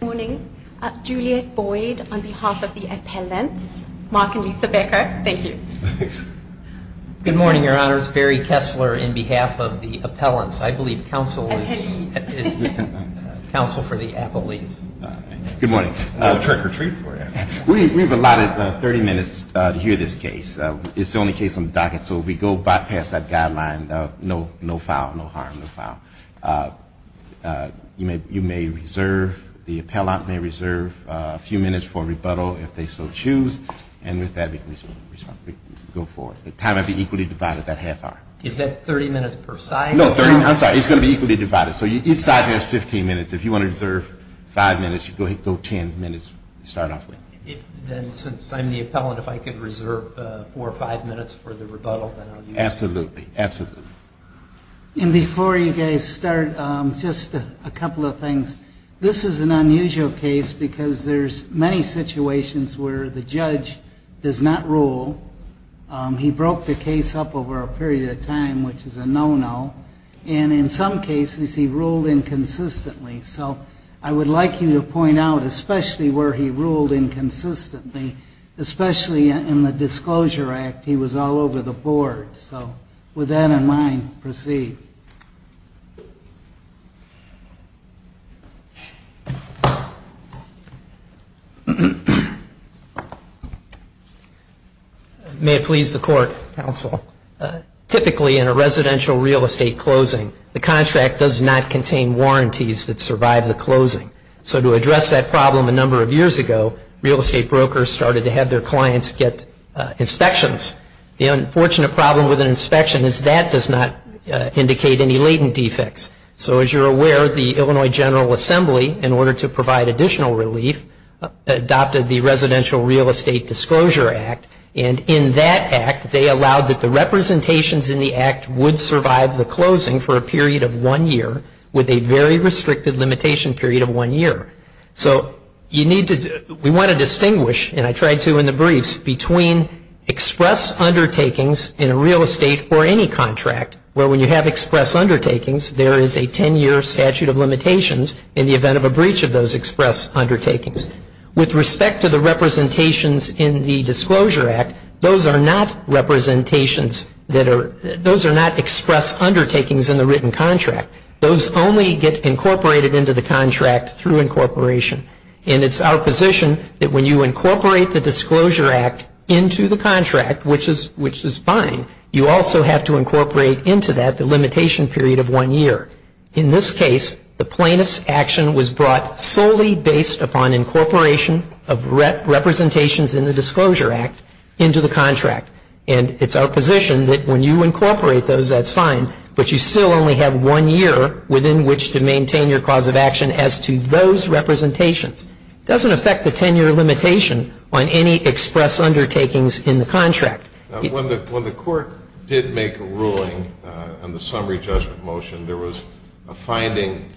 Good morning. Juliette Boyd on behalf of the appellants. Mark and Lisa Becker, thank you. Good morning, your honors. Barry Kessler on behalf of the appellants. I believe counsel is counsel for the appellates. Good morning. We have a lot of 30 minutes to hear this case. It's the only case on the docket so if we go past that guideline, no foul, no harm, no foul. You may reserve the appellant may reserve a few minutes for rebuttal if they so choose and with that we can go forward. The time will be equally divided, that half hour. Is that 30 minutes per side? No, 30 minutes, I'm sorry, it's going to be equally divided. So each side has 15 minutes. If you want to reserve 5 minutes, you go ahead and go 10 minutes to start off with. Then since I'm the appellant, if I could reserve 4 or 5 minutes for the rebuttal, then I'll use that. Absolutely, absolutely. And before you guys start, just a couple of things. This is an unusual case because there's many situations where the judge does not rule. He broke the case up over a period of time which is a no-no and in some cases he ruled inconsistently. So I would like you to point out especially where he ruled inconsistently, especially in the disclosure act, he was all over the board. So with that in mind, proceed. May it please the court, counsel. Typically in a residential real estate closing, the contract does not contain warranties that survive the closing. So to address that problem a number of years ago, real estate brokers started to have their clients get inspections. The unfortunate problem with an inspection is that does not indicate any latent defects. So as you're aware, the Illinois General Assembly, in order to provide additional relief, adopted the Residential Real Estate Disclosure Act. And in that act, they allowed that the representations in the act would survive the closing for a period of one year with a very restricted limitation period of one year. So you need to, we want to distinguish, and I tried to in the briefs, between express undertakings in a real estate or any contract where when you have express undertakings, there is a 10-year statute of limitations in the event of a breach of those express undertakings. With respect to the representations in the Disclosure Act, those are not representations that are, those are not express undertakings in the written contract. Those only get incorporated into the contract through incorporation. And it's our position that when you incorporate the Disclosure Act into the contract, which is fine, you also have to incorporate into that the limitation period of one year. In this case, the plaintiff's action was brought solely based upon incorporation of representations in the Disclosure Act into the contract. And it's our position that when you incorporate those, that's fine, but you still only have one year within which to maintain your cause of action as to those representations. It doesn't affect the 10-year limitation on any express undertakings in the contract. When the Court did make a ruling on the summary judgment motion, there was a finding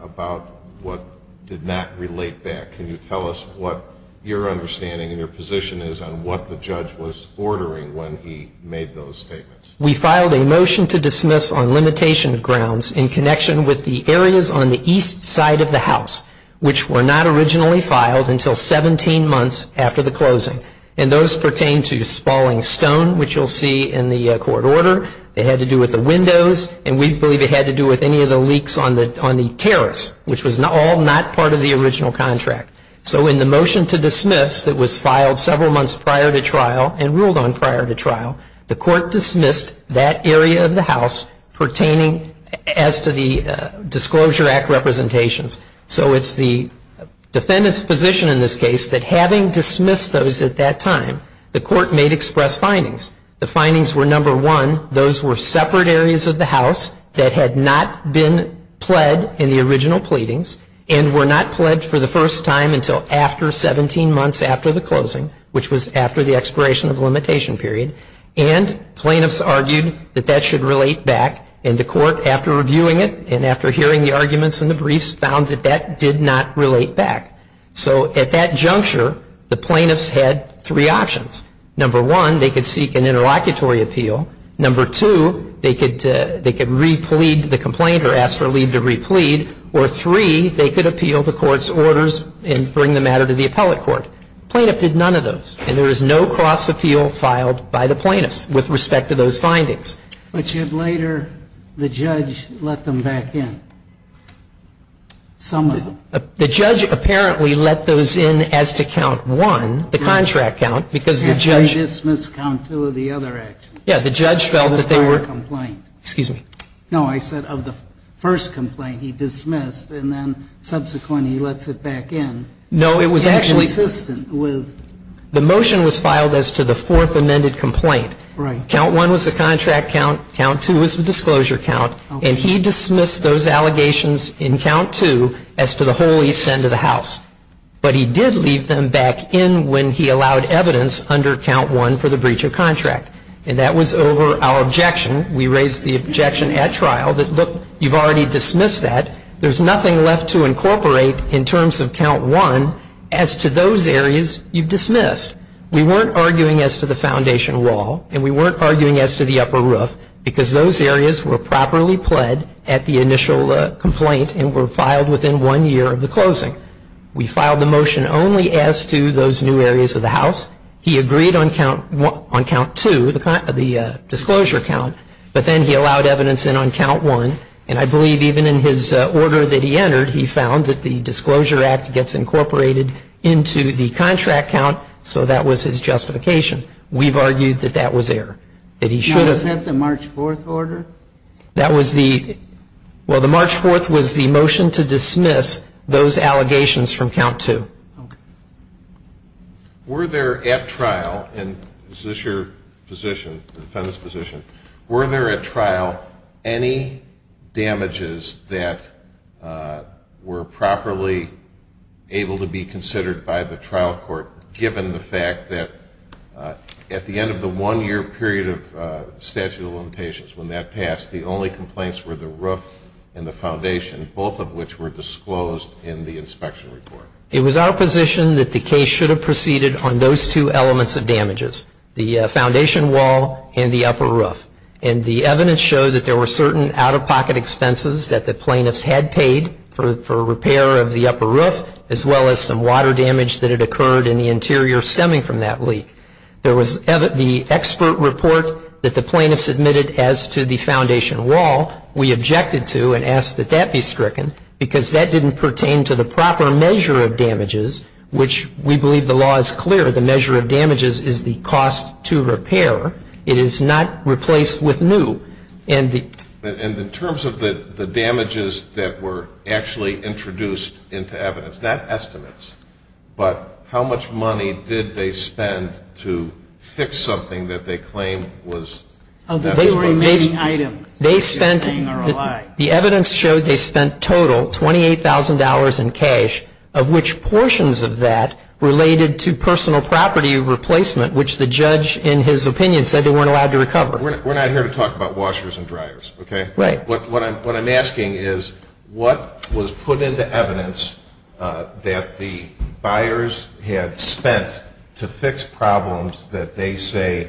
about what did not relate back. Can you tell us what your understanding and your position is on what the judge was ordering when he made those statements? We filed a motion to dismiss on limitation grounds in connection with the areas on the east side of the house, which were not originally filed until 17 months after the closing. And those pertain to Spalding Stone, which you'll see in the court order. It had to do with the windows, and we believe it had to do with any of the leaks on the terrace, which was all not part of the original contract. So in the motion to dismiss that was filed several months prior to trial. The Court dismissed that area of the house pertaining as to the Disclosure Act representations. So it's the defendant's position in this case that having dismissed those at that time, the Court made express findings. The findings were, number one, those were separate areas of the house that had not been pled in the original pleadings and were not pled for the first time until after 17 months after the closing, which was after the expiration of the limitation period. And plaintiffs argued that that should relate back, and the Court, after reviewing it and after hearing the arguments and the briefs, found that that did not relate back. So at that juncture, the plaintiffs had three options. Number one, they could seek an interlocutory appeal. Number two, they could re-plead the complaint or ask for leave to re-plead. Or three, they could appeal the Court's orders and bring the matter to the appellate court. Plaintiff did none of those, and there is no cross-appeal filed by the plaintiffs with respect to those findings. But you had later the judge let them back in. The judge apparently let those in as to count one, the contract count, because the judge ---- After he dismissed count two of the other actions. Yes. The judge felt that they were ---- Of the prior complaint. Excuse me. No, I said of the first complaint he dismissed, and then subsequently he lets it back in. No, it was actually ---- Consistent with ---- The motion was filed as to the fourth amended complaint. Right. Count one was the contract count. Count two was the disclosure count. Okay. And he dismissed those allegations in count two as to the whole east end of the house. But he did leave them back in when he allowed evidence under count one for the breach of contract. And that was over our objection. We raised the objection at trial that, look, you've already dismissed that. There's nothing left to incorporate in terms of count one as to those areas you've dismissed. We weren't arguing as to the foundation wall, and we weren't arguing as to the upper roof, because those areas were properly pled at the initial complaint and were filed within one year of the closing. We filed the motion only as to those new areas of the house. He agreed on count two, the disclosure count, but then he allowed evidence in on count one. And I believe even in his order that he entered, he found that the disclosure act gets incorporated into the contract count. So that was his justification. We've argued that that was error, that he should have ---- Now, was that the March 4th order? That was the ---- Well, the March 4th was the motion to dismiss those allegations from count two. Okay. Were there at trial, and is this your position, the defendant's position, were there at trial any damages that were properly able to be considered by the trial court, given the fact that at the end of the one-year period of statute of limitations, when that passed, the only complaints were the roof and the foundation, both of which were disclosed in the inspection report? It was our position that the case should have proceeded on those two elements of damages, the foundation wall and the upper roof. And the evidence showed that there were certain out-of-pocket expenses that the plaintiffs had paid for repair of the upper roof, as well as some water damage that had occurred in the interior stemming from that leak. There was the expert report that the plaintiffs submitted as to the foundation wall, we objected to and asked that that be stricken, because that didn't pertain to the proper measure of damages, which we believe the law is clear. The measure of damages is the cost to repair. It is not replaced with new. And the And in terms of the damages that were actually introduced into evidence, not estimates, but how much money did they spend to fix something that they claim was They were remaining items. They spent, the evidence showed they spent total $28,000 in cash, of which portions of that related to personal property replacement, which the judge in his opinion said they weren't allowed to recover. We're not here to talk about washers and dryers, okay? Right. What I'm asking is what was put into evidence that the buyers had spent to fix problems that they say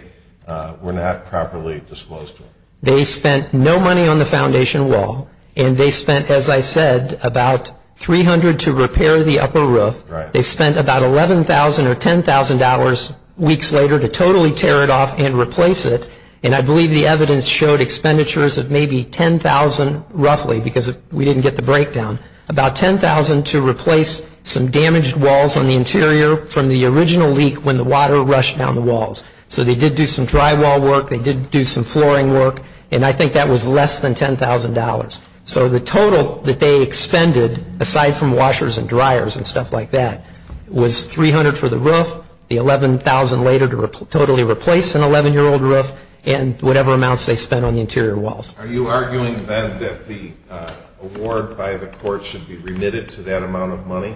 were not properly disclosed to them? They spent no money on the foundation wall, and they spent, as I said, about $300,000 to repair the upper roof. They spent about $11,000 or $10,000 weeks later to totally tear it off and replace it, and I believe the evidence showed expenditures of maybe $10,000 roughly, because we didn't get the breakdown, about $10,000 to replace some damaged walls on the interior from the original leak when the water rushed down the walls. So they did do some drywall work. They did do some flooring work, and I think that was less than $10,000. So the total that they expended, aside from washers and dryers and stuff like that, was $300,000 for the roof, the $11,000 later to totally replace an 11-year-old roof, and whatever amounts they spent on the interior walls. Are you arguing then that the award by the court should be remitted to that amount of money?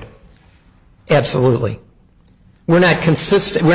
Absolutely. We're not conceding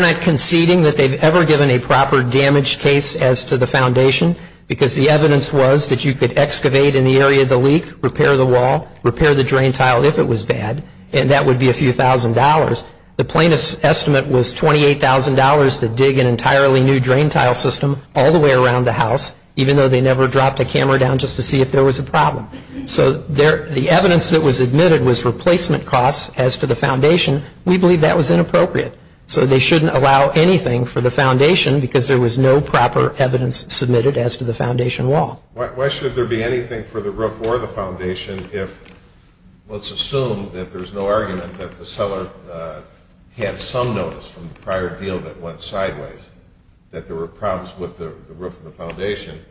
that they've ever given a proper damage case as to the foundation, because the evidence was that you could excavate in the area of the leak, repair the wall, repair the drain tile if it was bad, and that would be a few thousand dollars. The plaintiff's estimate was $28,000 to dig an entirely new drain tile system all the way around the house, even though they never dropped a camera down just to see if there was a problem. So the evidence that was admitted was replacement costs as to the foundation. We believe that was inappropriate. So they shouldn't allow anything for the foundation because there was no proper evidence submitted as to the foundation wall. Why should there be anything for the roof or the foundation if, let's assume that there's no argument that the seller had some notice from the prior deal that went sideways, that there were problems with the roof of the foundation,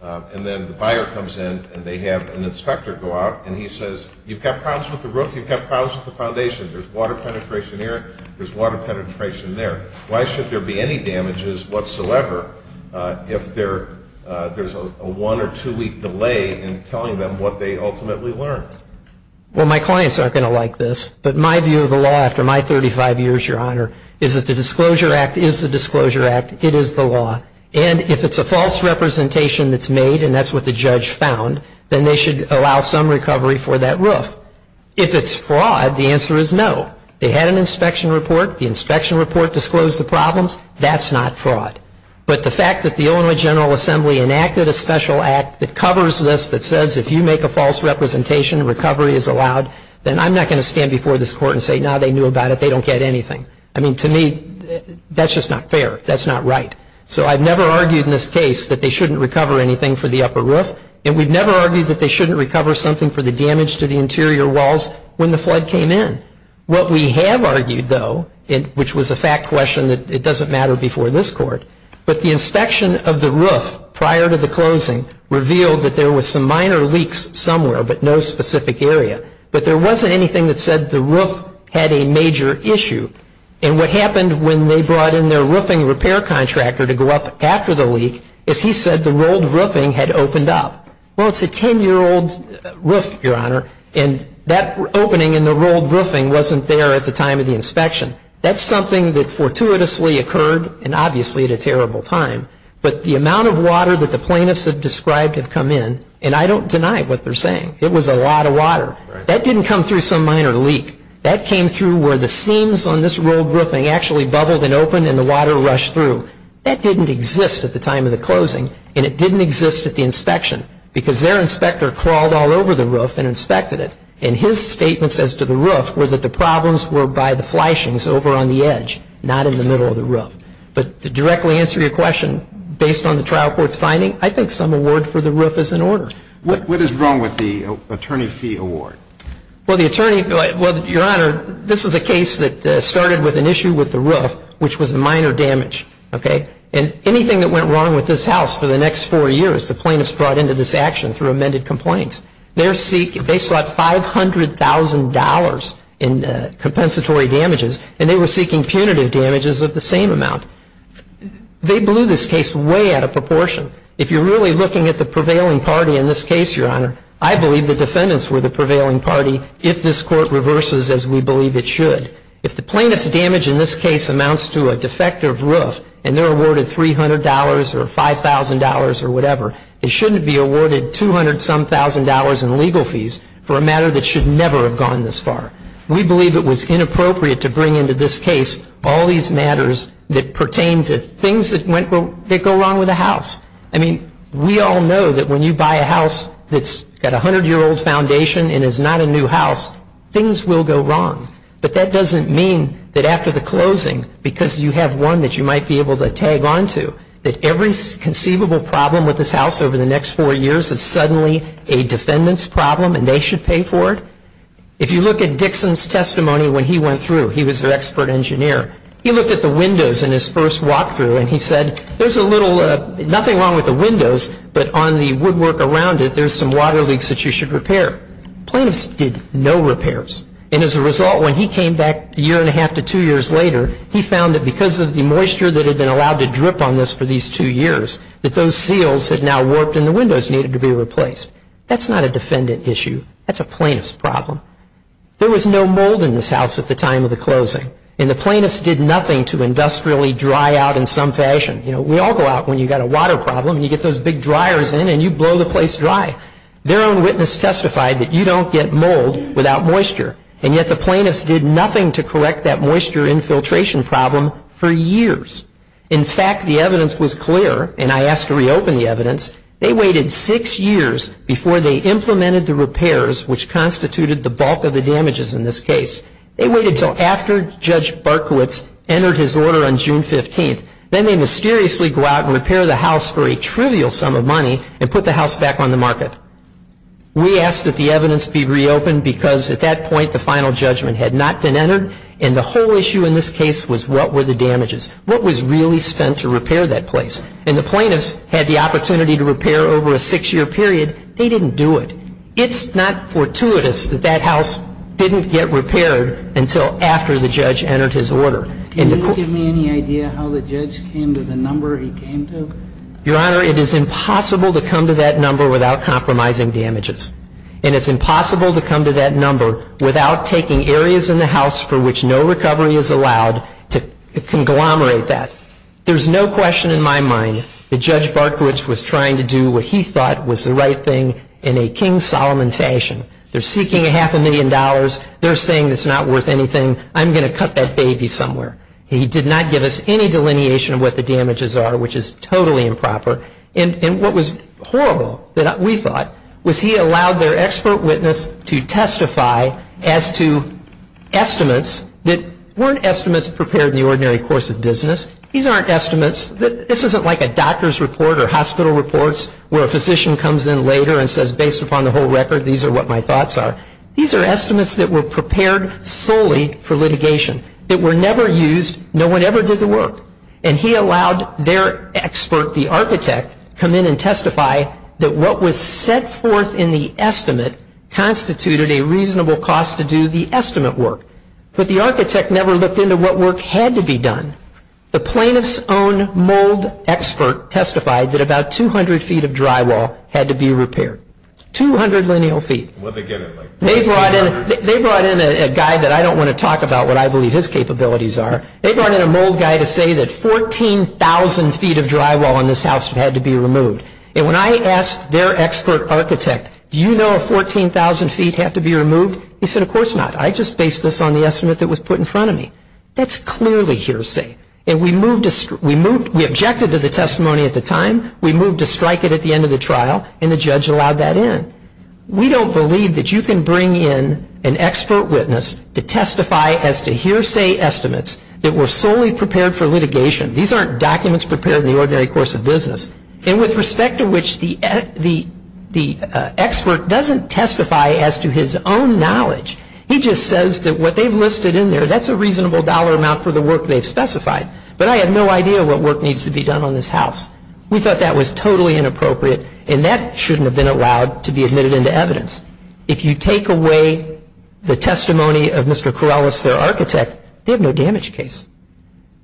and then the buyer comes in and they have an inspector go out and he says, you've got problems with the roof, you've got problems with the foundation, there's water penetration here, there's water penetration there, why should there be any damages whatsoever if there's a one or two week delay in telling them what they ultimately learned? Well, my clients aren't going to like this, but my view of the law after my 35 years, Your Honor, is that the Disclosure Act is the Disclosure Act, it is the law, and if it's a false representation that's made and that's what the judge found, then they should allow some recovery for that roof. If it's fraud, the answer is no. They had an inspection report, the inspection report disclosed the problems, that's not fraud. But the fact that the Illinois General Assembly enacted a special act that covers this that says if you make a false representation, recovery is allowed, then I'm not going to stand before this Court and say, no, they knew about it, they don't get anything. I mean, to me, that's just not fair, that's not right. So I've never argued in this case that they shouldn't recover anything for the upper roof, and we've never argued that they shouldn't recover something for the damage to the interior walls when the flood came in. What we have argued, though, which was a fact question that it doesn't matter before this Court, but the inspection of the roof prior to the closing revealed that there was some minor leaks somewhere, but no specific area. But there wasn't anything that said the roof had a major issue. And what happened when they brought in their roofing repair contractor to go up after the leak is he said the rolled roofing had opened up. Well, it's a 10-year-old roof, Your Honor, and that opening in the rolled roofing wasn't there at the time of the inspection. That's something that fortuitously occurred, and obviously at a terrible time. But the amount of water that the plaintiffs have described have come in, and I don't deny what they're saying. It was a lot of water. That didn't come through some minor leak. That came through where the seams on this rolled roofing actually bubbled and opened and the water rushed through. That didn't exist at the time of the closing, and it didn't exist at the inspection because their inspector crawled all over the roof and inspected it. And his statements as to the roof were that the problems were by the flashings over on the edge, not in the middle of the roof. But to directly answer your question, based on the trial court's finding, I think some award for the roof is in order. What is wrong with the attorney fee award? Well, the attorney, well, Your Honor, this is a case that started with an issue with the roof, which was a minor damage, okay? And anything that went wrong with this house for the next four years, the plaintiffs brought into this action through amended complaints. They sought $500,000 in compensatory damages, and they were seeking punitive damages of the same amount. They blew this case way out of proportion. If you're really looking at the prevailing party in this case, Your Honor, I believe the defendants were the prevailing party, if this court reverses as we believe it should. If the plaintiff's damage in this case amounts to a defective roof, and they're awarded $300 or $5,000 or whatever, it shouldn't be awarded $200-some-thousand in legal fees for a matter that should never have gone this far. We believe it was inappropriate to bring into this case all these matters that pertain to things that go wrong with a house. I mean, we all know that when you buy a house that's got a 100-year-old foundation and is not a new house, things will go wrong. But that doesn't mean that after the closing, because you have one that you might be able to tag onto, that every conceivable problem with this house over the next four years is suddenly a defendant's problem and they should pay for it. If you look at Dixon's testimony when he went through, he was their expert engineer. He looked at the windows in his first walkthrough, and he said, there's a little, nothing wrong with the windows, but on the woodwork around it, there's some water leaks that you should repair. Plaintiffs did no repairs. And as a result, when he came back a year and a half to two years later, he found that because of the moisture that had been allowed to drip on this for these two years, that those seals had now warped and the windows needed to be replaced. That's not a defendant issue. That's a plaintiff's problem. There was no mold in this house at the time of the closing, and the plaintiffs did nothing to industrially dry out in some fashion. We all go out when you've got a water problem and you get those big dryers in and you blow the place dry. Their own witness testified that you don't get mold without moisture, and yet the plaintiffs did nothing to correct that moisture infiltration problem for years. In fact, the evidence was clear, and I asked to reopen the evidence. They waited six years before they implemented the repairs, which constituted the bulk of the damages in this case. They waited until after Judge Barkowitz entered his order on June 15th. Then they mysteriously go out and repair the house for We asked that the evidence be reopened because at that point the final judgment had not been entered, and the whole issue in this case was what were the damages? What was really spent to repair that place? And the plaintiffs had the opportunity to repair over a six-year period. They didn't do it. It's not fortuitous that that house didn't get repaired until after the judge entered his order. Can you give me any idea how the judge came to the number he came to? Your Honor, it is impossible to come to that number without compromising damages. And it's impossible to come to that number without taking areas in the house for which no recovery is allowed to conglomerate that. There's no question in my mind that Judge Barkowitz was trying to do what he thought was the right thing in a King Solomon fashion. They're seeking a half a million dollars. They're saying it's not worth anything. I'm going to cut that baby somewhere. He did not give us any delineation of what the damages are, which is totally improper. And what was horrible that we thought was he allowed their expert witness to testify as to estimates that weren't estimates prepared in the ordinary course of business. These aren't estimates. This isn't like a doctor's report or hospital reports where a physician comes in later and says, based upon the whole record, these are what my thoughts are. These are estimates that were prepared solely for litigation, that were never used. No one ever did the work. And he allowed their expert, the architect, come in and testify that what was set forth in the estimate constituted a reasonable cost to do the estimate work. But the architect never looked into what work had to be done. The plaintiff's own mold expert testified that about 200 feet of drywall had to be repaired. 200 lineal feet. They brought in a guy that I don't want to talk about what I believe his capabilities are. They brought in a mold guy to say that 14,000 feet of drywall in this house had to be removed. And when I asked their expert architect, do you know if 14,000 feet have to be removed? He said, of course not. I just based this on the estimate that was put in front of me. That's clearly hearsay. And we objected to the testimony at the time. We moved to strike it at the end of the trial. And the judge allowed that in. We don't believe that you can bring in an expert witness to testify as to hearsay estimates that were solely prepared for litigation. These aren't documents prepared in the ordinary course of business. And with respect to which the expert doesn't testify as to his own knowledge. He just says that what they've listed in there, that's a reasonable dollar amount for the work they've specified. But I have no idea what work needs to be done on this house. We thought that was totally inappropriate. And that shouldn't have been allowed to be admitted into evidence. If you take away the testimony of Mr. Corrales, their architect, they have no damage case.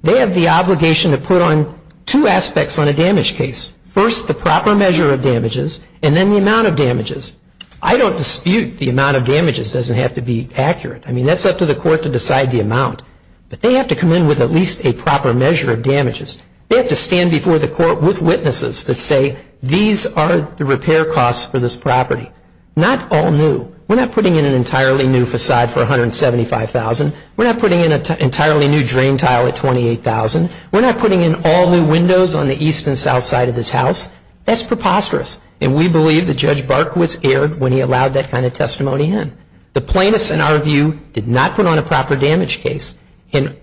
They have the obligation to put on two aspects on a damage case. First, the proper measure of damages. And then the amount of damages. I don't dispute the amount of damages doesn't have to be accurate. I mean, that's up to the court to decide the amount. But they have to come in with at least a proper measure of damages. They have to stand before the court with witnesses that say, these are the repair costs for this property. Not all new. We're not putting in an entirely new facade for $175,000. We're not putting in an entirely new drain tile at $28,000. We're not putting in all new windows on the east and south side of this house. That's preposterous. And we believe that Judge Barkowitz erred when he allowed that kind of testimony in. The plaintiffs, in our view, did not put on a proper damage case. And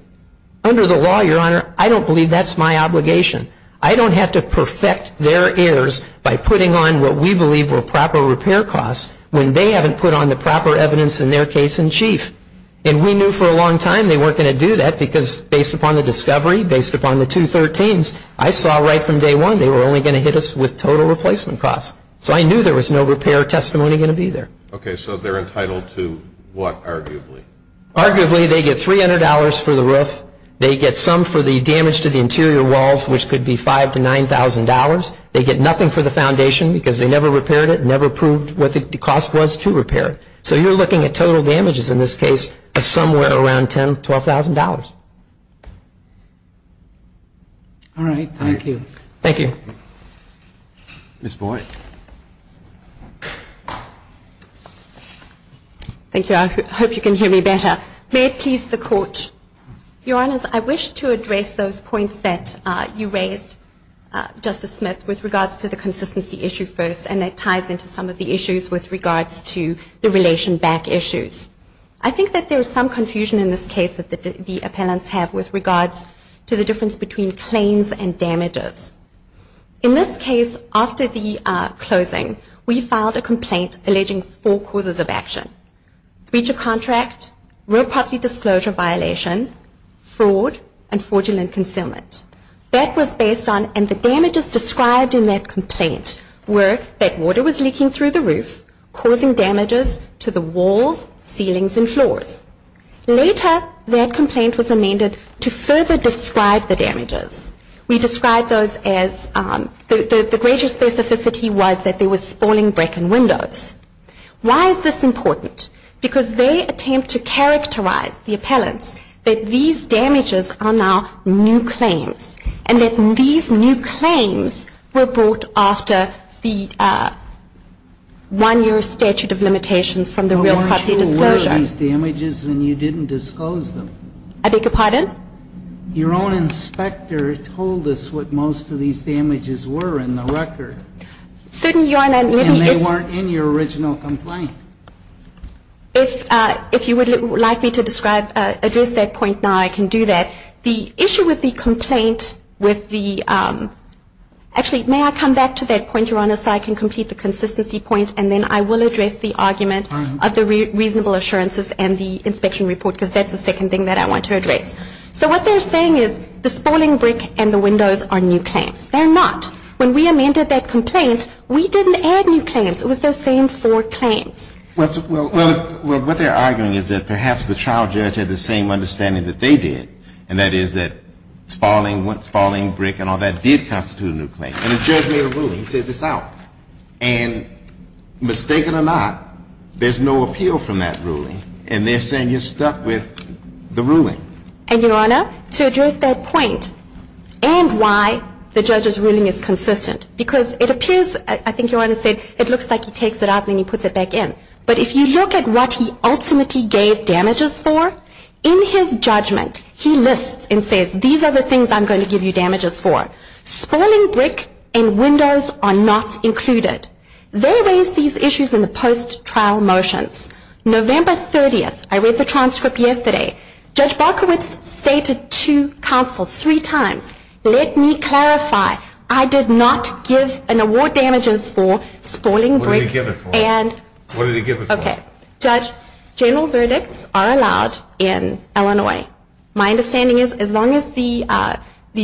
under the law, Your Honor, I don't believe that's my obligation. I don't have to perfect their errors by putting on what we believe were proper repair costs when they haven't put on the proper evidence in their case in chief. And we knew for a long time they weren't going to do that because based upon the discovery, based upon the 213s, I saw right from day one they were only going to hit us with total replacement costs. So I knew there was no repair testimony going to be there. Okay, so they're entitled to what, arguably? Arguably, they get $300 for the roof. They get some for the damage to the interior walls, which could be $5,000 to $9,000. They get nothing for the foundation because they never repaired it and never proved what the cost was to repair it. So you're looking at total damages in this case of somewhere around $10,000 to $12,000. All right, thank you. Thank you. Ms. Boyd. Thank you. I hope you can hear me better. May it please the Court. Your Honors, I wish to address those points that you raised, Justice Smith, with regards to the consistency issue first, and that ties into some of the issues with regards to the relation back issues. I think that there is some confusion in this case that the appellants have with regards to the difference between claims and damages. In this case, after the closing, we filed a complaint alleging four causes of action, breach of contract, real property disclosure violation, fraud, and fraudulent concealment. That was based on, and the damages described in that complaint were that water was leaking through the roof, causing damages to the walls, ceilings, and floors. Later, that complaint was amended to further describe the damages. We described those as the greater specificity was that there was spalling brick and windows. Why is this important? Because they attempt to characterize the appellants that these damages are now new claims, and that these new claims were brought after the one-year statute of limitations from the real property disclosure. But weren't you aware of these damages and you didn't disclose them? I beg your pardon? Your own inspector told us what most of these damages were in the record. Certainly, Your Honor. And they weren't in your original complaint. If you would like me to describe, address that point now, I can do that. The issue with the complaint with the, actually, may I come back to that point, Your Honor, so I can complete the consistency point and then I will address the argument of the reasonable assurances and the inspection report because that's the second thing that I want to address. So what they're saying is the spalling brick and the windows are new claims. They're not. When we amended that complaint, we didn't add new claims. It was the same four claims. Well, what they're arguing is that perhaps the trial judge had the same understanding that they did, and that is that spalling brick and all that did constitute a new claim. And the judge made a ruling. He said it's out. And mistaken or not, there's no appeal from that ruling. And they're saying you're stuck with the ruling. And, Your Honor, to address that point and why the judge's ruling is consistent, because it appears, I think Your Honor said, it looks like he takes it out and then he puts it back in. But if you look at what he ultimately gave damages for, in his judgment, he lists and says these are the things I'm going to give you damages for. Spalling brick and windows are not included. They raised these issues in the post-trial motions. November 30th, I read the transcript yesterday, Judge Barkowitz stated to counsel three times, let me clarify, I did not give an award damages for spalling brick. What did he give it for? What did he give it for? Judge, general verdicts are allowed in Illinois. My understanding is as long as the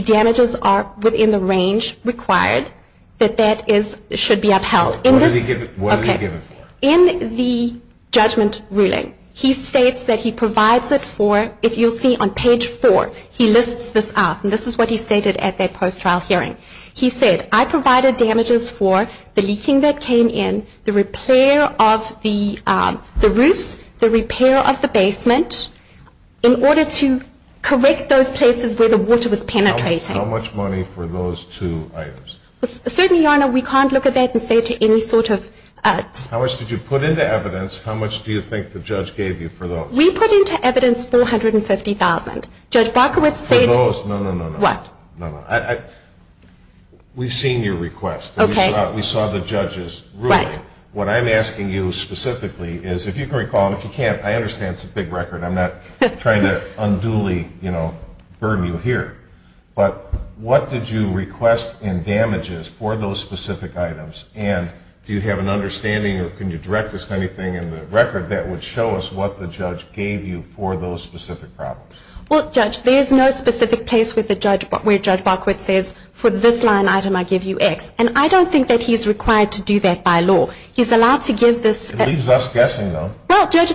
damages are within the range required, that that should be upheld. What did he give it for? In the judgment ruling, he states that he provides it for, if you'll see on page four, he lists this out. And this is what he stated at that post-trial hearing. He said, I provided damages for the leaking that came in, the repair of the roofs, the repair of the basement, in order to correct those places where the water was penetrating. How much money for those two items? Certainly, Your Honor, we can't look at that and say to any sort of How much did you put into evidence? How much do you think the judge gave you for those? We put into evidence $450,000. Judge Barkowitz said For those, no, no, no, no. What? No, no. We've seen your request. Okay. We saw the judge's ruling. Right. What I'm asking you specifically is, if you can recall, and if you can't, I understand it's a big record. I'm not trying to unduly, you know, burn you here. But what did you request in damages for those specific items? And do you have an understanding, or can you direct us to anything in the record that would show us what the judge gave you for those specific problems? Well, Judge, there's no specific place where Judge Barkowitz says, For this line item, I give you X. And I don't think that he's required to do that by law. He's allowed to give this It leaves us guessing, though. Well, Judge,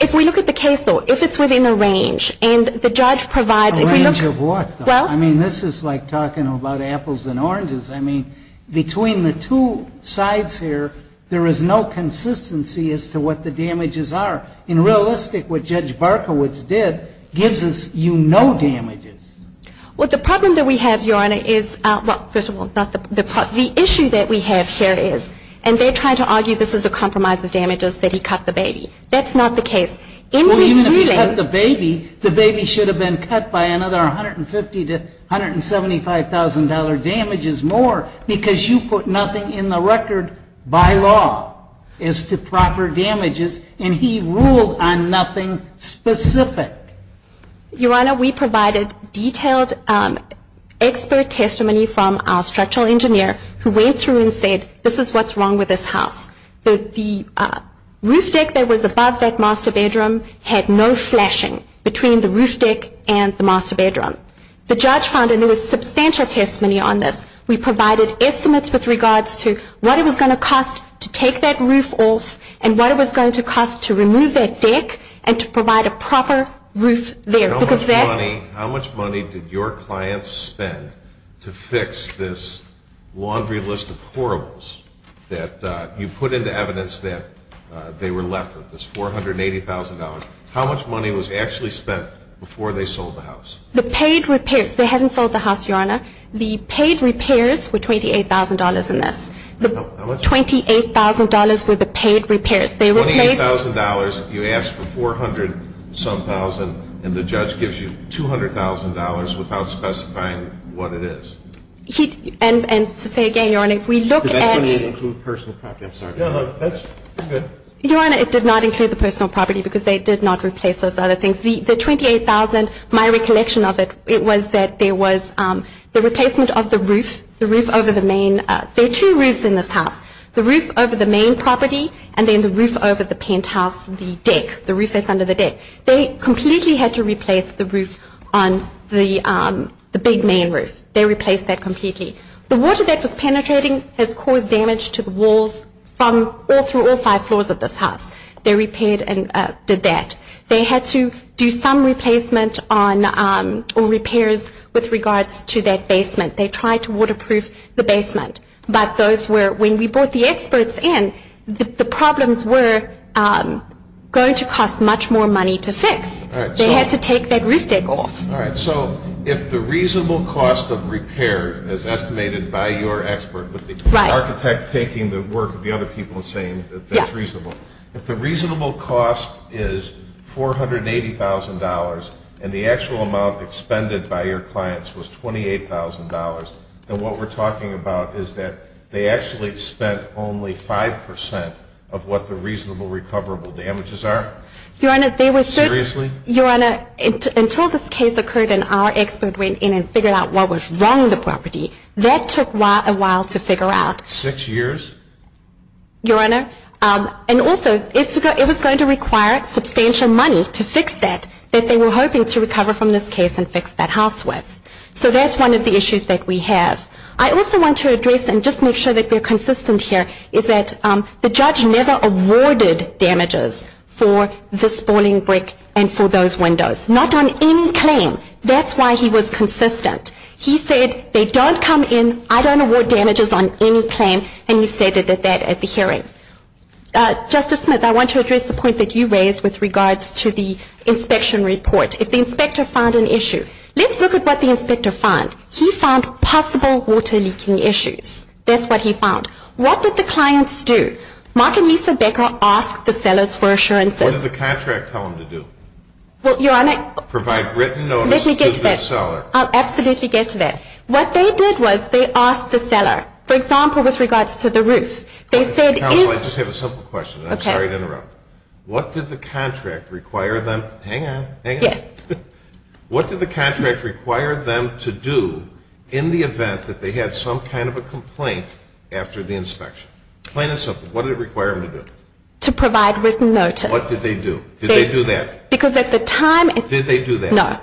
if we look at the case law, if it's within a range, and the judge provides Within a range of what, though? Well I mean, this is like talking about apples and oranges. I mean, between the two sides here, there is no consistency as to what the damages are. In realistic, what Judge Barkowitz did gives us, you know, damages. Well, the problem that we have, Your Honor, is, well, first of all, the issue that we have here is, and they're trying to argue this is a compromise of damages, that he cut the baby. That's not the case. Emily's ruling The baby should have been cut by another $150,000 to $175,000 damages more, because you put nothing in the record by law as to proper damages, and he ruled on nothing specific. Your Honor, we provided detailed expert testimony from our structural engineer, who went through and said, this is what's wrong with this house. The roof deck that was above that master bedroom had no flashing between the roof deck and the master bedroom. The judge found, and there was substantial testimony on this, we provided estimates with regards to what it was going to cost to take that roof off and what it was going to cost to remove that deck and to provide a proper roof there. How much money did your clients spend to fix this laundry list of horribles that you put into evidence that they were left with? It's $480,000. How much money was actually spent before they sold the house? The paid repairs. They hadn't sold the house, Your Honor. The paid repairs were $28,000 in this. How much? $28,000 were the paid repairs. They replaced $28,000. You asked for 400-some thousand, and the judge gives you $200,000 without specifying what it is. And to say again, Your Honor, if we look at It didn't include personal property. I'm sorry. No, no, that's good. Your Honor, it did not include the personal property because they did not replace those other things. The $28,000, my recollection of it, it was that there was the replacement of the roof, the roof over the main. There are two roofs in this house, the roof over the main property and then the roof over the penthouse, the deck, the roof that's under the deck. They completely had to replace the roof on the big main roof. They replaced that completely. The water that was penetrating has caused damage to the walls from all through all five floors of this house. They repaired and did that. They had to do some replacement or repairs with regards to that basement. They tried to waterproof the basement. But those were, when we brought the experts in, the problems were going to cost much more money to fix. They had to take that roof deck off. All right. So if the reasonable cost of repair, as estimated by your expert with the architect taking the work of the other people and saying that that's reasonable, if the reasonable cost is $480,000 and the actual amount expended by your clients was $28,000, then what we're talking about is that they actually spent only 5% of what the reasonable recoverable damages are? Your Honor, they were so – Seriously? Your Honor, until this case occurred and our expert went in and figured out what was wrong with the property, that took a while to figure out. Six years? Your Honor, and also it was going to require substantial money to fix that, that they were hoping to recover from this case and fix that house with. So that's one of the issues that we have. I also want to address and just make sure that we're consistent here, is that the judge never awarded damages for the spalling brick and for those windows. Not on any claim. That's why he was consistent. He said they don't come in, I don't award damages on any claim, and he stated that at the hearing. Justice Smith, I want to address the point that you raised with regards to the inspection report. If the inspector found an issue, let's look at what the inspector found. He found possible water leaking issues. That's what he found. What did the clients do? Mark and Lisa Becker asked the sellers for assurances. What did the contract tell them to do? Well, Your Honor. Provide written notice to the seller. Let me get to that. I'll absolutely get to that. What they did was they asked the seller, for example, with regards to the roofs. Counsel, I just have a simple question. I'm sorry to interrupt. What did the contract require them to do in the event that they had some kind of a complaint after the inspection? Plain and simple. What did it require them to do? To provide written notice. What did they do? Did they do that? Because at the time. Did they do that? No.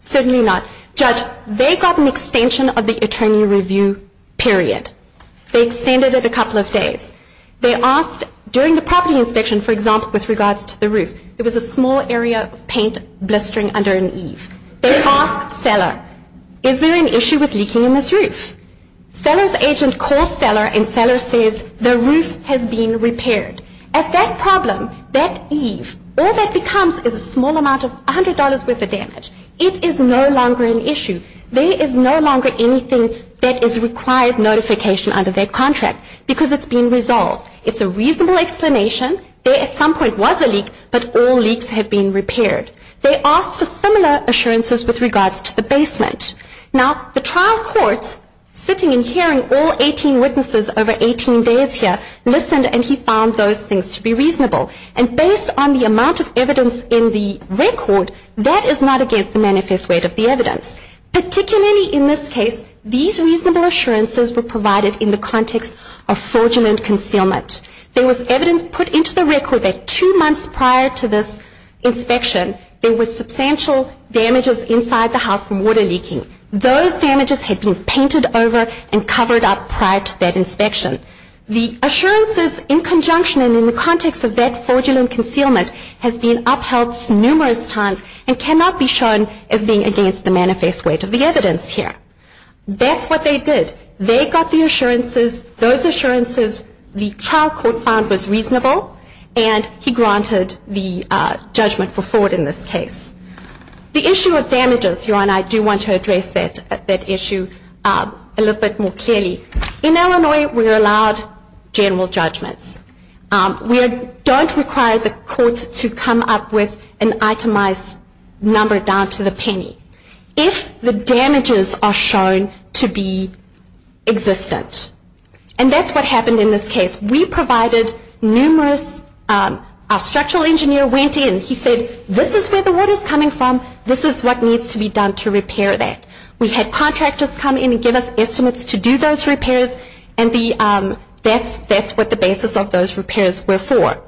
Certainly not. Judge, they got an extension of the attorney review period. They extended it a couple of days. They asked during the property inspection, for example, with regards to the roof. It was a small area of paint blistering under an eave. They asked seller, is there an issue with leaking in this roof? Seller's agent calls seller and seller says, the roof has been repaired. At that problem, that eave, all that becomes is a small amount of $100 worth of damage. It is no longer an issue. There is no longer anything that is required notification under their contract because it's been resolved. It's a reasonable explanation. There at some point was a leak, but all leaks have been repaired. They asked for similar assurances with regards to the basement. Now, the trial court, sitting and hearing all 18 witnesses over 18 days here, listened and he found those things to be reasonable. And based on the amount of evidence in the record, that is not against the manifest rate of the evidence. Particularly in this case, these reasonable assurances were provided in the context of fraudulent concealment. There was evidence put into the record that two months prior to this inspection, there was substantial damages inside the house from water leaking. Those damages had been painted over and covered up prior to that inspection. The assurances in conjunction and in the context of that fraudulent concealment has been upheld numerous times and cannot be shown as being against the manifest rate of the evidence here. That's what they did. They got the assurances, those assurances the trial court found was reasonable, and he granted the judgment for fraud in this case. The issue of damages, I do want to address that issue a little bit more clearly. In Illinois, we are allowed general judgments. We don't require the court to come up with an itemized number down to the penny if the damages are shown to be existent. And that's what happened in this case. We provided numerous, our structural engineer went in, he said, this is where the water is coming from, this is what needs to be done to repair that. We had contractors come in and give us estimates to do those repairs, and that's what the basis of those repairs were for.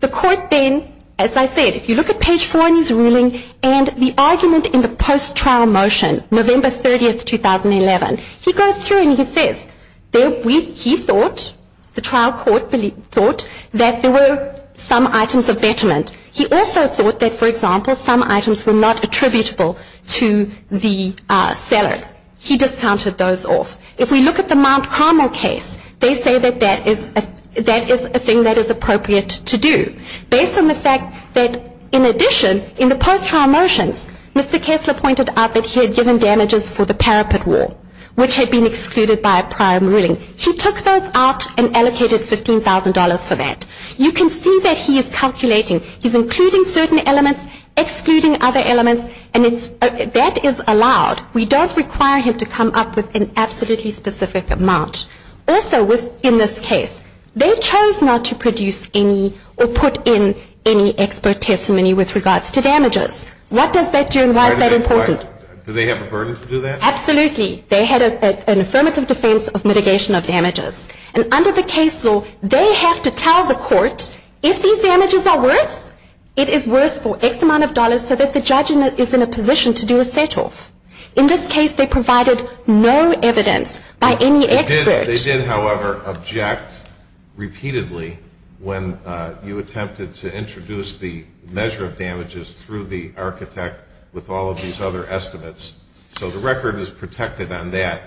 The court then, as I said, if you look at page 4 in his ruling, and the argument in the post-trial motion, November 30, 2011, he goes through and he says he thought, the trial court thought, that there were some items of betterment. He also thought that, for example, some items were not attributable to the sellers. He discounted those off. If we look at the Mount Carmel case, they say that that is a thing that is appropriate to do, based on the fact that, in addition, in the post-trial motions, Mr. Kessler pointed out that he had given damages for the parapet wall, which had been excluded by a prior ruling. He took those out and allocated $15,000 for that. You can see that he is calculating. He's including certain elements, excluding other elements, and that is allowed. We don't require him to come up with an absolutely specific amount. Also, in this case, they chose not to produce any or put in any expert testimony with regards to damages. What does that do and why is that important? Do they have a burden to do that? Absolutely. They had an affirmative defense of mitigation of damages. And under the case law, they have to tell the court, if these damages are worse, it is worse for X amount of dollars so that the judge is in a position to do a set-off. In this case, they provided no evidence by any expert. They did, however, object repeatedly when you attempted to introduce the measure of damages through the architect with all of these other estimates. So the record is protected on that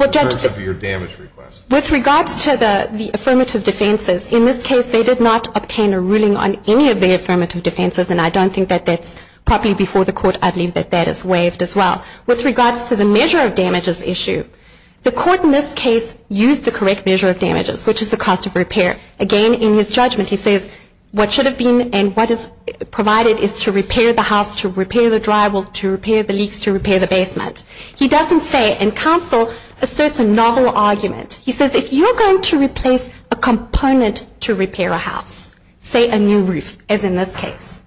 in terms of your damage request. With regards to the affirmative defenses, in this case, they did not obtain a ruling on any of the affirmative defenses, and I don't think that that's properly before the court. I believe that that is waived as well. With regards to the measure of damages issue, the court in this case used the correct measure of damages, which is the cost of repair. Again, in his judgment, he says, what should have been and what is provided is to repair the house, to repair the drywall, to repair the leaks, to repair the basement. He doesn't say, and counsel asserts a novel argument. He says, if you're going to replace a component to repair a house, say a new roof, as in this case,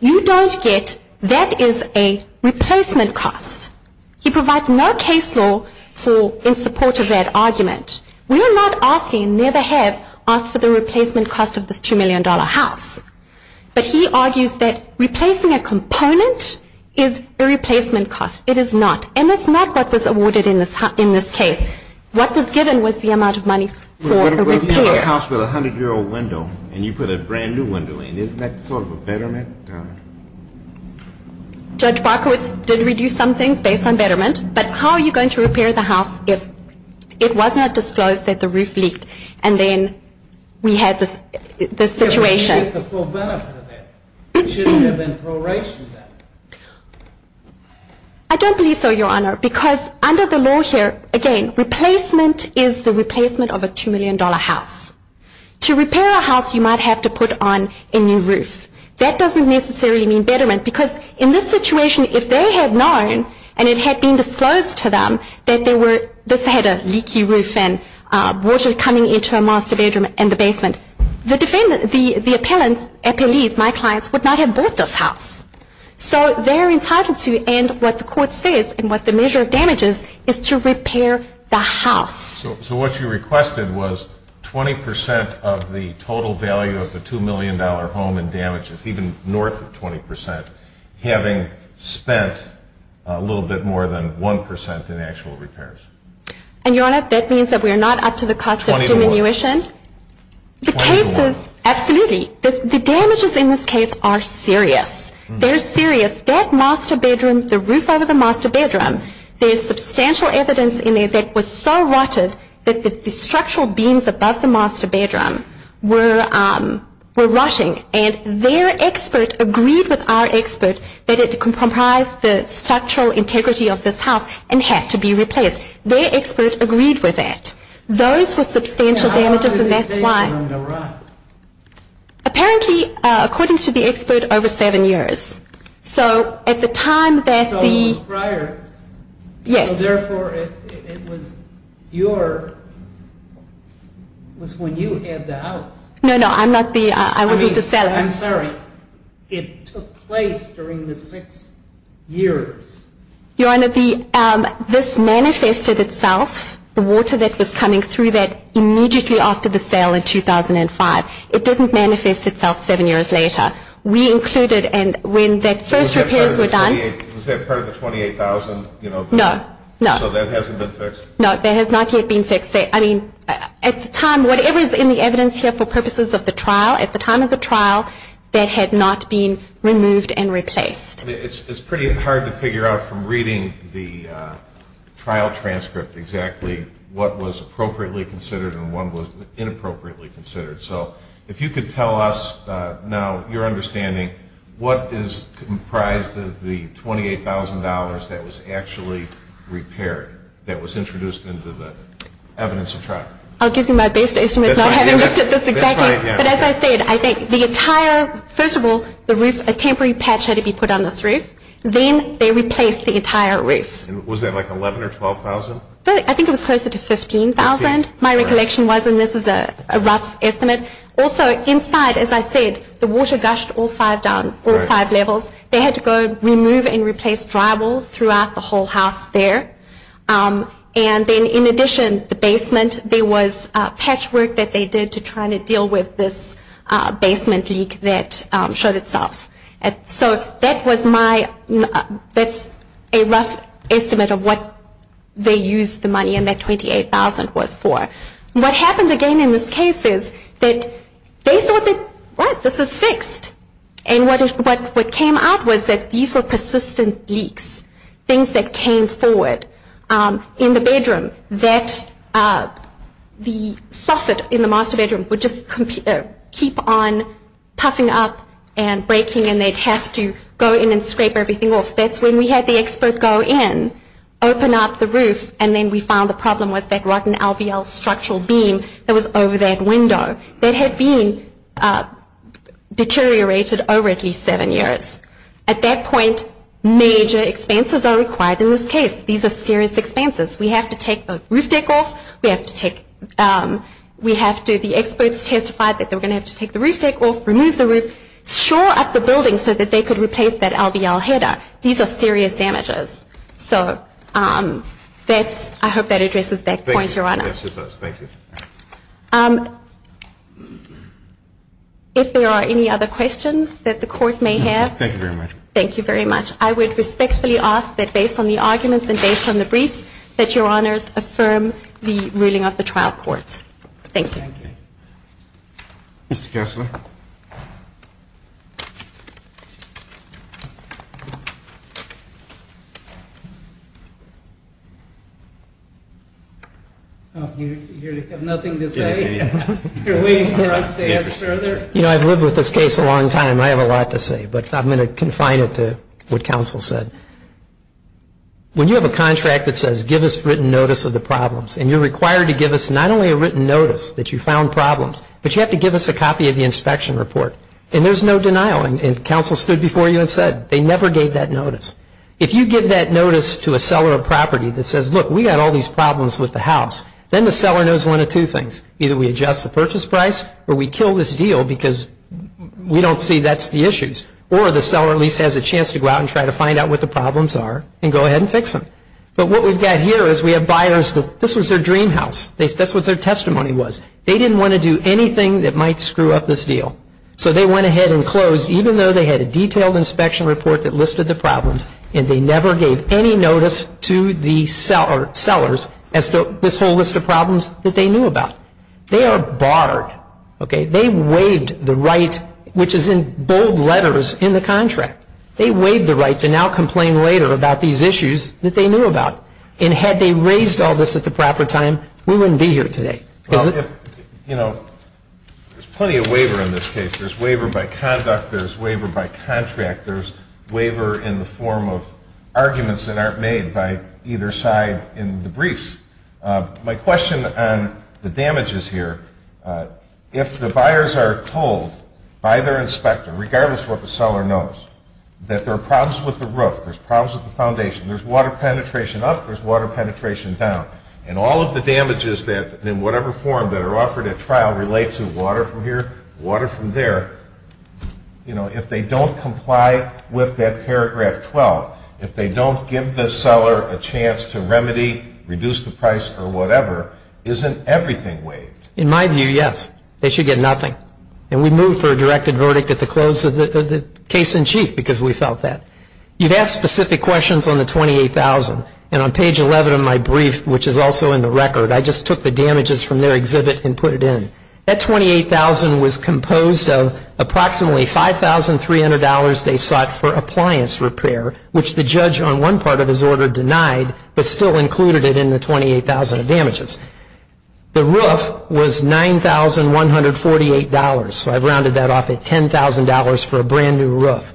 you don't get that is a replacement cost. He provides no case law in support of that argument. We are not asking and never have asked for the replacement cost of this $2 million house. But he argues that replacing a component is a replacement cost. It is not. And that's not what was awarded in this case. What was given was the amount of money for a repair. But if you have a house with a 100-year-old window and you put a brand-new window in, isn't that sort of a betterment? Judge Barkowitz did reduce some things based on betterment, but how are you going to repair the house if it was not disclosed that the roof leaked and then we had this situation? But we didn't get the full benefit of that. It should have been pro-racial benefit. I don't believe so, Your Honor, because under the law here, again, replacement is the replacement of a $2 million house. To repair a house, you might have to put on a new roof. That doesn't necessarily mean betterment, because in this situation, if they had known and it had been disclosed to them that this had a leaky roof and water coming into a master bedroom and the basement, the appellants, appellees, my clients, would not have bought this house. So they're entitled to, and what the court says and what the measure of damage is, is to repair the house. So what you requested was 20 percent of the total value of the $2 million home and damages, even north of 20 percent, having spent a little bit more than 1 percent in actual repairs. And, Your Honor, that means that we're not up to the cost of diminution? Twenty-one. Twenty-one. Absolutely. The damages in this case are serious. They're serious. That master bedroom, the roof of the master bedroom, there's substantial evidence in there that was so rotted that the structural beams above the master bedroom were rotting, and their expert agreed with our expert that it comprised the structural integrity of this house and had to be replaced. Their expert agreed with that. Those were substantial damages, and that's why. How long did it take them to rot? Apparently, according to the expert, over seven years. So at the time that the... So it was prior. Yes. Therefore, it was your... It was when you had the house. No, no, I'm not the... I wasn't the seller. I'm sorry. It took place during the six years. Your Honor, this manifested itself, the water that was coming through that, immediately after the sale in 2005. It didn't manifest itself seven years later. We included... Was that part of the $28,000? No, no. So that hasn't been fixed? No, that has not yet been fixed. I mean, at the time, whatever is in the evidence here for purposes of the trial, at the time of the trial, that had not been removed and replaced. It's pretty hard to figure out from reading the trial transcript exactly what was appropriately considered and what was inappropriately considered. So if you could tell us now, your understanding, what is comprised of the $28,000 that was actually repaired, that was introduced into the evidence of trial? I'll give you my best estimate. That's my idea. But as I said, I think the entire, first of all, the roof, a temporary patch had to be put on this roof. Then they replaced the entire roof. Was that like $11,000 or $12,000? I think it was closer to $15,000, my recollection was, and this is a rough estimate. But also inside, as I said, the water gushed all five down, all five levels. They had to go remove and replace drywall throughout the whole house there. And then in addition, the basement, there was patchwork that they did to try to deal with this basement leak that showed itself. So that was my, that's a rough estimate of what they used the money and that $28,000 was for. What happened again in this case is that they thought that, right, this is fixed. And what came out was that these were persistent leaks, things that came forward in the bedroom, that the soffit in the master bedroom would just keep on puffing up and breaking and they'd have to go in and scrape everything off. That's when we had the expert go in, open up the roof, and then we found the problem was that rotten LVL structural beam that was over that window that had been deteriorated over at least seven years. At that point, major expenses are required in this case. These are serious expenses. We have to take the roof deck off. We have to take, we have to, the experts testified that they were going to have to take the roof deck off, remove the roof, shore up the building so that they could replace that LVL header. These are serious damages. So that's, I hope that addresses that point, Your Honor. Yes, it does. Thank you. If there are any other questions that the Court may have. No, thank you very much. Thank you very much. I would respectfully ask that based on the arguments and based on the briefs, that Your Honors affirm the ruling of the trial courts. Thank you. Thank you. Mr. Kessler. Mr. Kessler. You have nothing to say? You're waiting for us to ask further? You know, I've lived with this case a long time. I have a lot to say, but I'm going to confine it to what counsel said. When you have a contract that says give us written notice of the problems and you're required to give us not only a written notice that you found problems, but you have to give us a copy of the inspection report. And there's no denial. And counsel stood before you and said they never gave that notice. If you give that notice to a seller of property that says, look, we've got all these problems with the house, then the seller knows one of two things. Either we adjust the purchase price or we kill this deal because we don't see that's the issues. Or the seller at least has a chance to go out and try to find out what the problems are and go ahead and fix them. But what we've got here is we have buyers that this was their dream house. That's what their testimony was. They didn't want to do anything that might screw up this deal. So they went ahead and closed even though they had a detailed inspection report that listed the problems and they never gave any notice to the sellers as to this whole list of problems that they knew about. They are barred. They waived the right, which is in bold letters in the contract. They waived the right to now complain later about these issues that they knew about. And had they raised all this at the proper time, we wouldn't be here today. There's plenty of waiver in this case. There's waiver by conduct. There's waiver by contract. There's waiver in the form of arguments that aren't made by either side in the briefs. My question on the damages here, if the buyers are told by their inspector, regardless of what the seller knows, that there are problems with the roof, there's problems with the foundation, there's water penetration up, there's water penetration down, and all of the damages that in whatever form that are offered at trial relate to water from here, water from there, if they don't comply with that paragraph 12, if they don't give the seller a chance to remedy, reduce the price or whatever, isn't everything waived? In my view, yes. They should get nothing. And we moved for a directed verdict at the close of the case in chief because we felt that. You've asked specific questions on the $28,000. And on page 11 of my brief, which is also in the record, I just took the damages from their exhibit and put it in. That $28,000 was composed of approximately $5,300 they sought for appliance repair, which the judge on one part of his order denied, but still included it in the $28,000 of damages. The roof was $9,148, so I've rounded that off at $10,000 for a brand-new roof.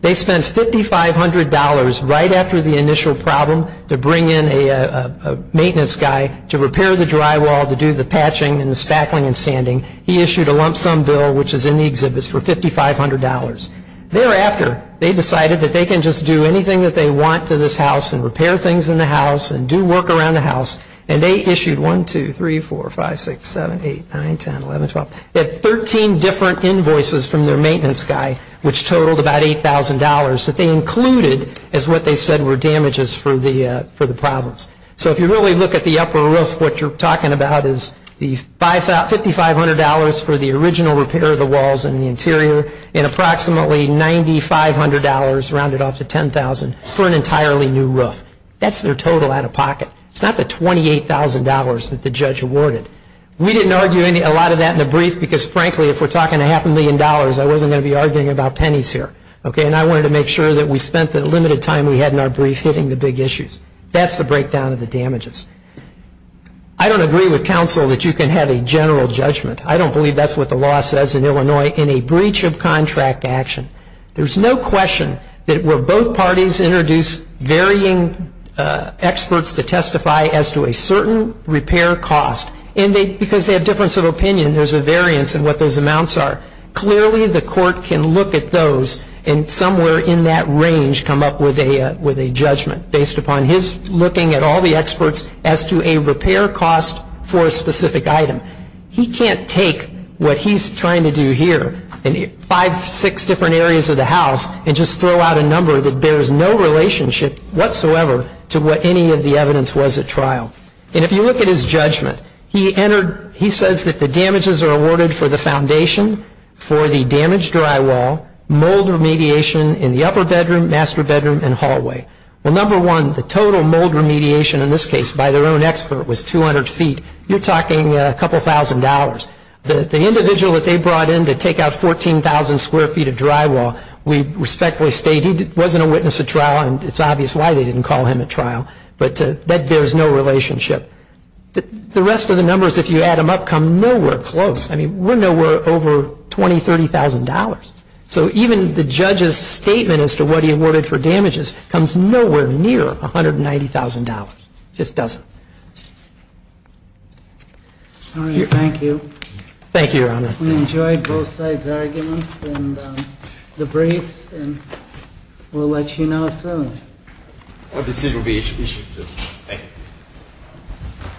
They spent $5,500 right after the initial problem to bring in a maintenance guy to repair the drywall, to do the patching and the spackling and sanding. He issued a lump sum bill, which is in the exhibit, for $5,500. Thereafter, they decided that they can just do anything that they want to this house and repair things in the house and do work around the house. And they issued 1, 2, 3, 4, 5, 6, 7, 8, 9, 10, 11, 12. They had 13 different invoices from their maintenance guy, which totaled about $8,000, that they included as what they said were damages for the problems. So if you really look at the upper roof, what you're talking about is the $5,500 for the original repair of the walls and the interior and approximately $9,500, rounded off to $10,000, for an entirely new roof. That's their total out of pocket. It's not the $28,000 that the judge awarded. We didn't argue a lot of that in the brief because, frankly, if we're talking a half a million dollars, I wasn't going to be arguing about pennies here. And I wanted to make sure that we spent the limited time we had in our brief hitting the big issues. That's the breakdown of the damages. I don't agree with counsel that you can have a general judgment. I don't believe that's what the law says in Illinois in a breach of contract action. There's no question that where both parties introduce varying experts to testify as to a certain repair cost, and because they have difference of opinion, there's a variance in what those amounts are. Clearly, the court can look at those and somewhere in that range come up with a judgment based upon his looking at all the experts as to a repair cost for a specific item. He can't take what he's trying to do here in five, six different areas of the house and just throw out a number that bears no relationship whatsoever to what any of the evidence was at trial. And if you look at his judgment, he says that the damages are awarded for the foundation, for the damaged drywall, mold remediation in the upper bedroom, master bedroom, and hallway. Well, number one, the total mold remediation in this case by their own expert was 200 feet. You're talking a couple thousand dollars. The individual that they brought in to take out 14,000 square feet of drywall, we respectfully state he wasn't a witness at trial, and it's obvious why they didn't call him at trial. But that bears no relationship. The rest of the numbers, if you add them up, come nowhere close. I mean, we're nowhere over $20,000, $30,000. So even the judge's statement as to what he awarded for damages comes nowhere near $190,000. Thank you. Thank you, Your Honor. We enjoyed both sides' arguments and the briefs, and we'll let you know soon. This will be issued soon. Thank you.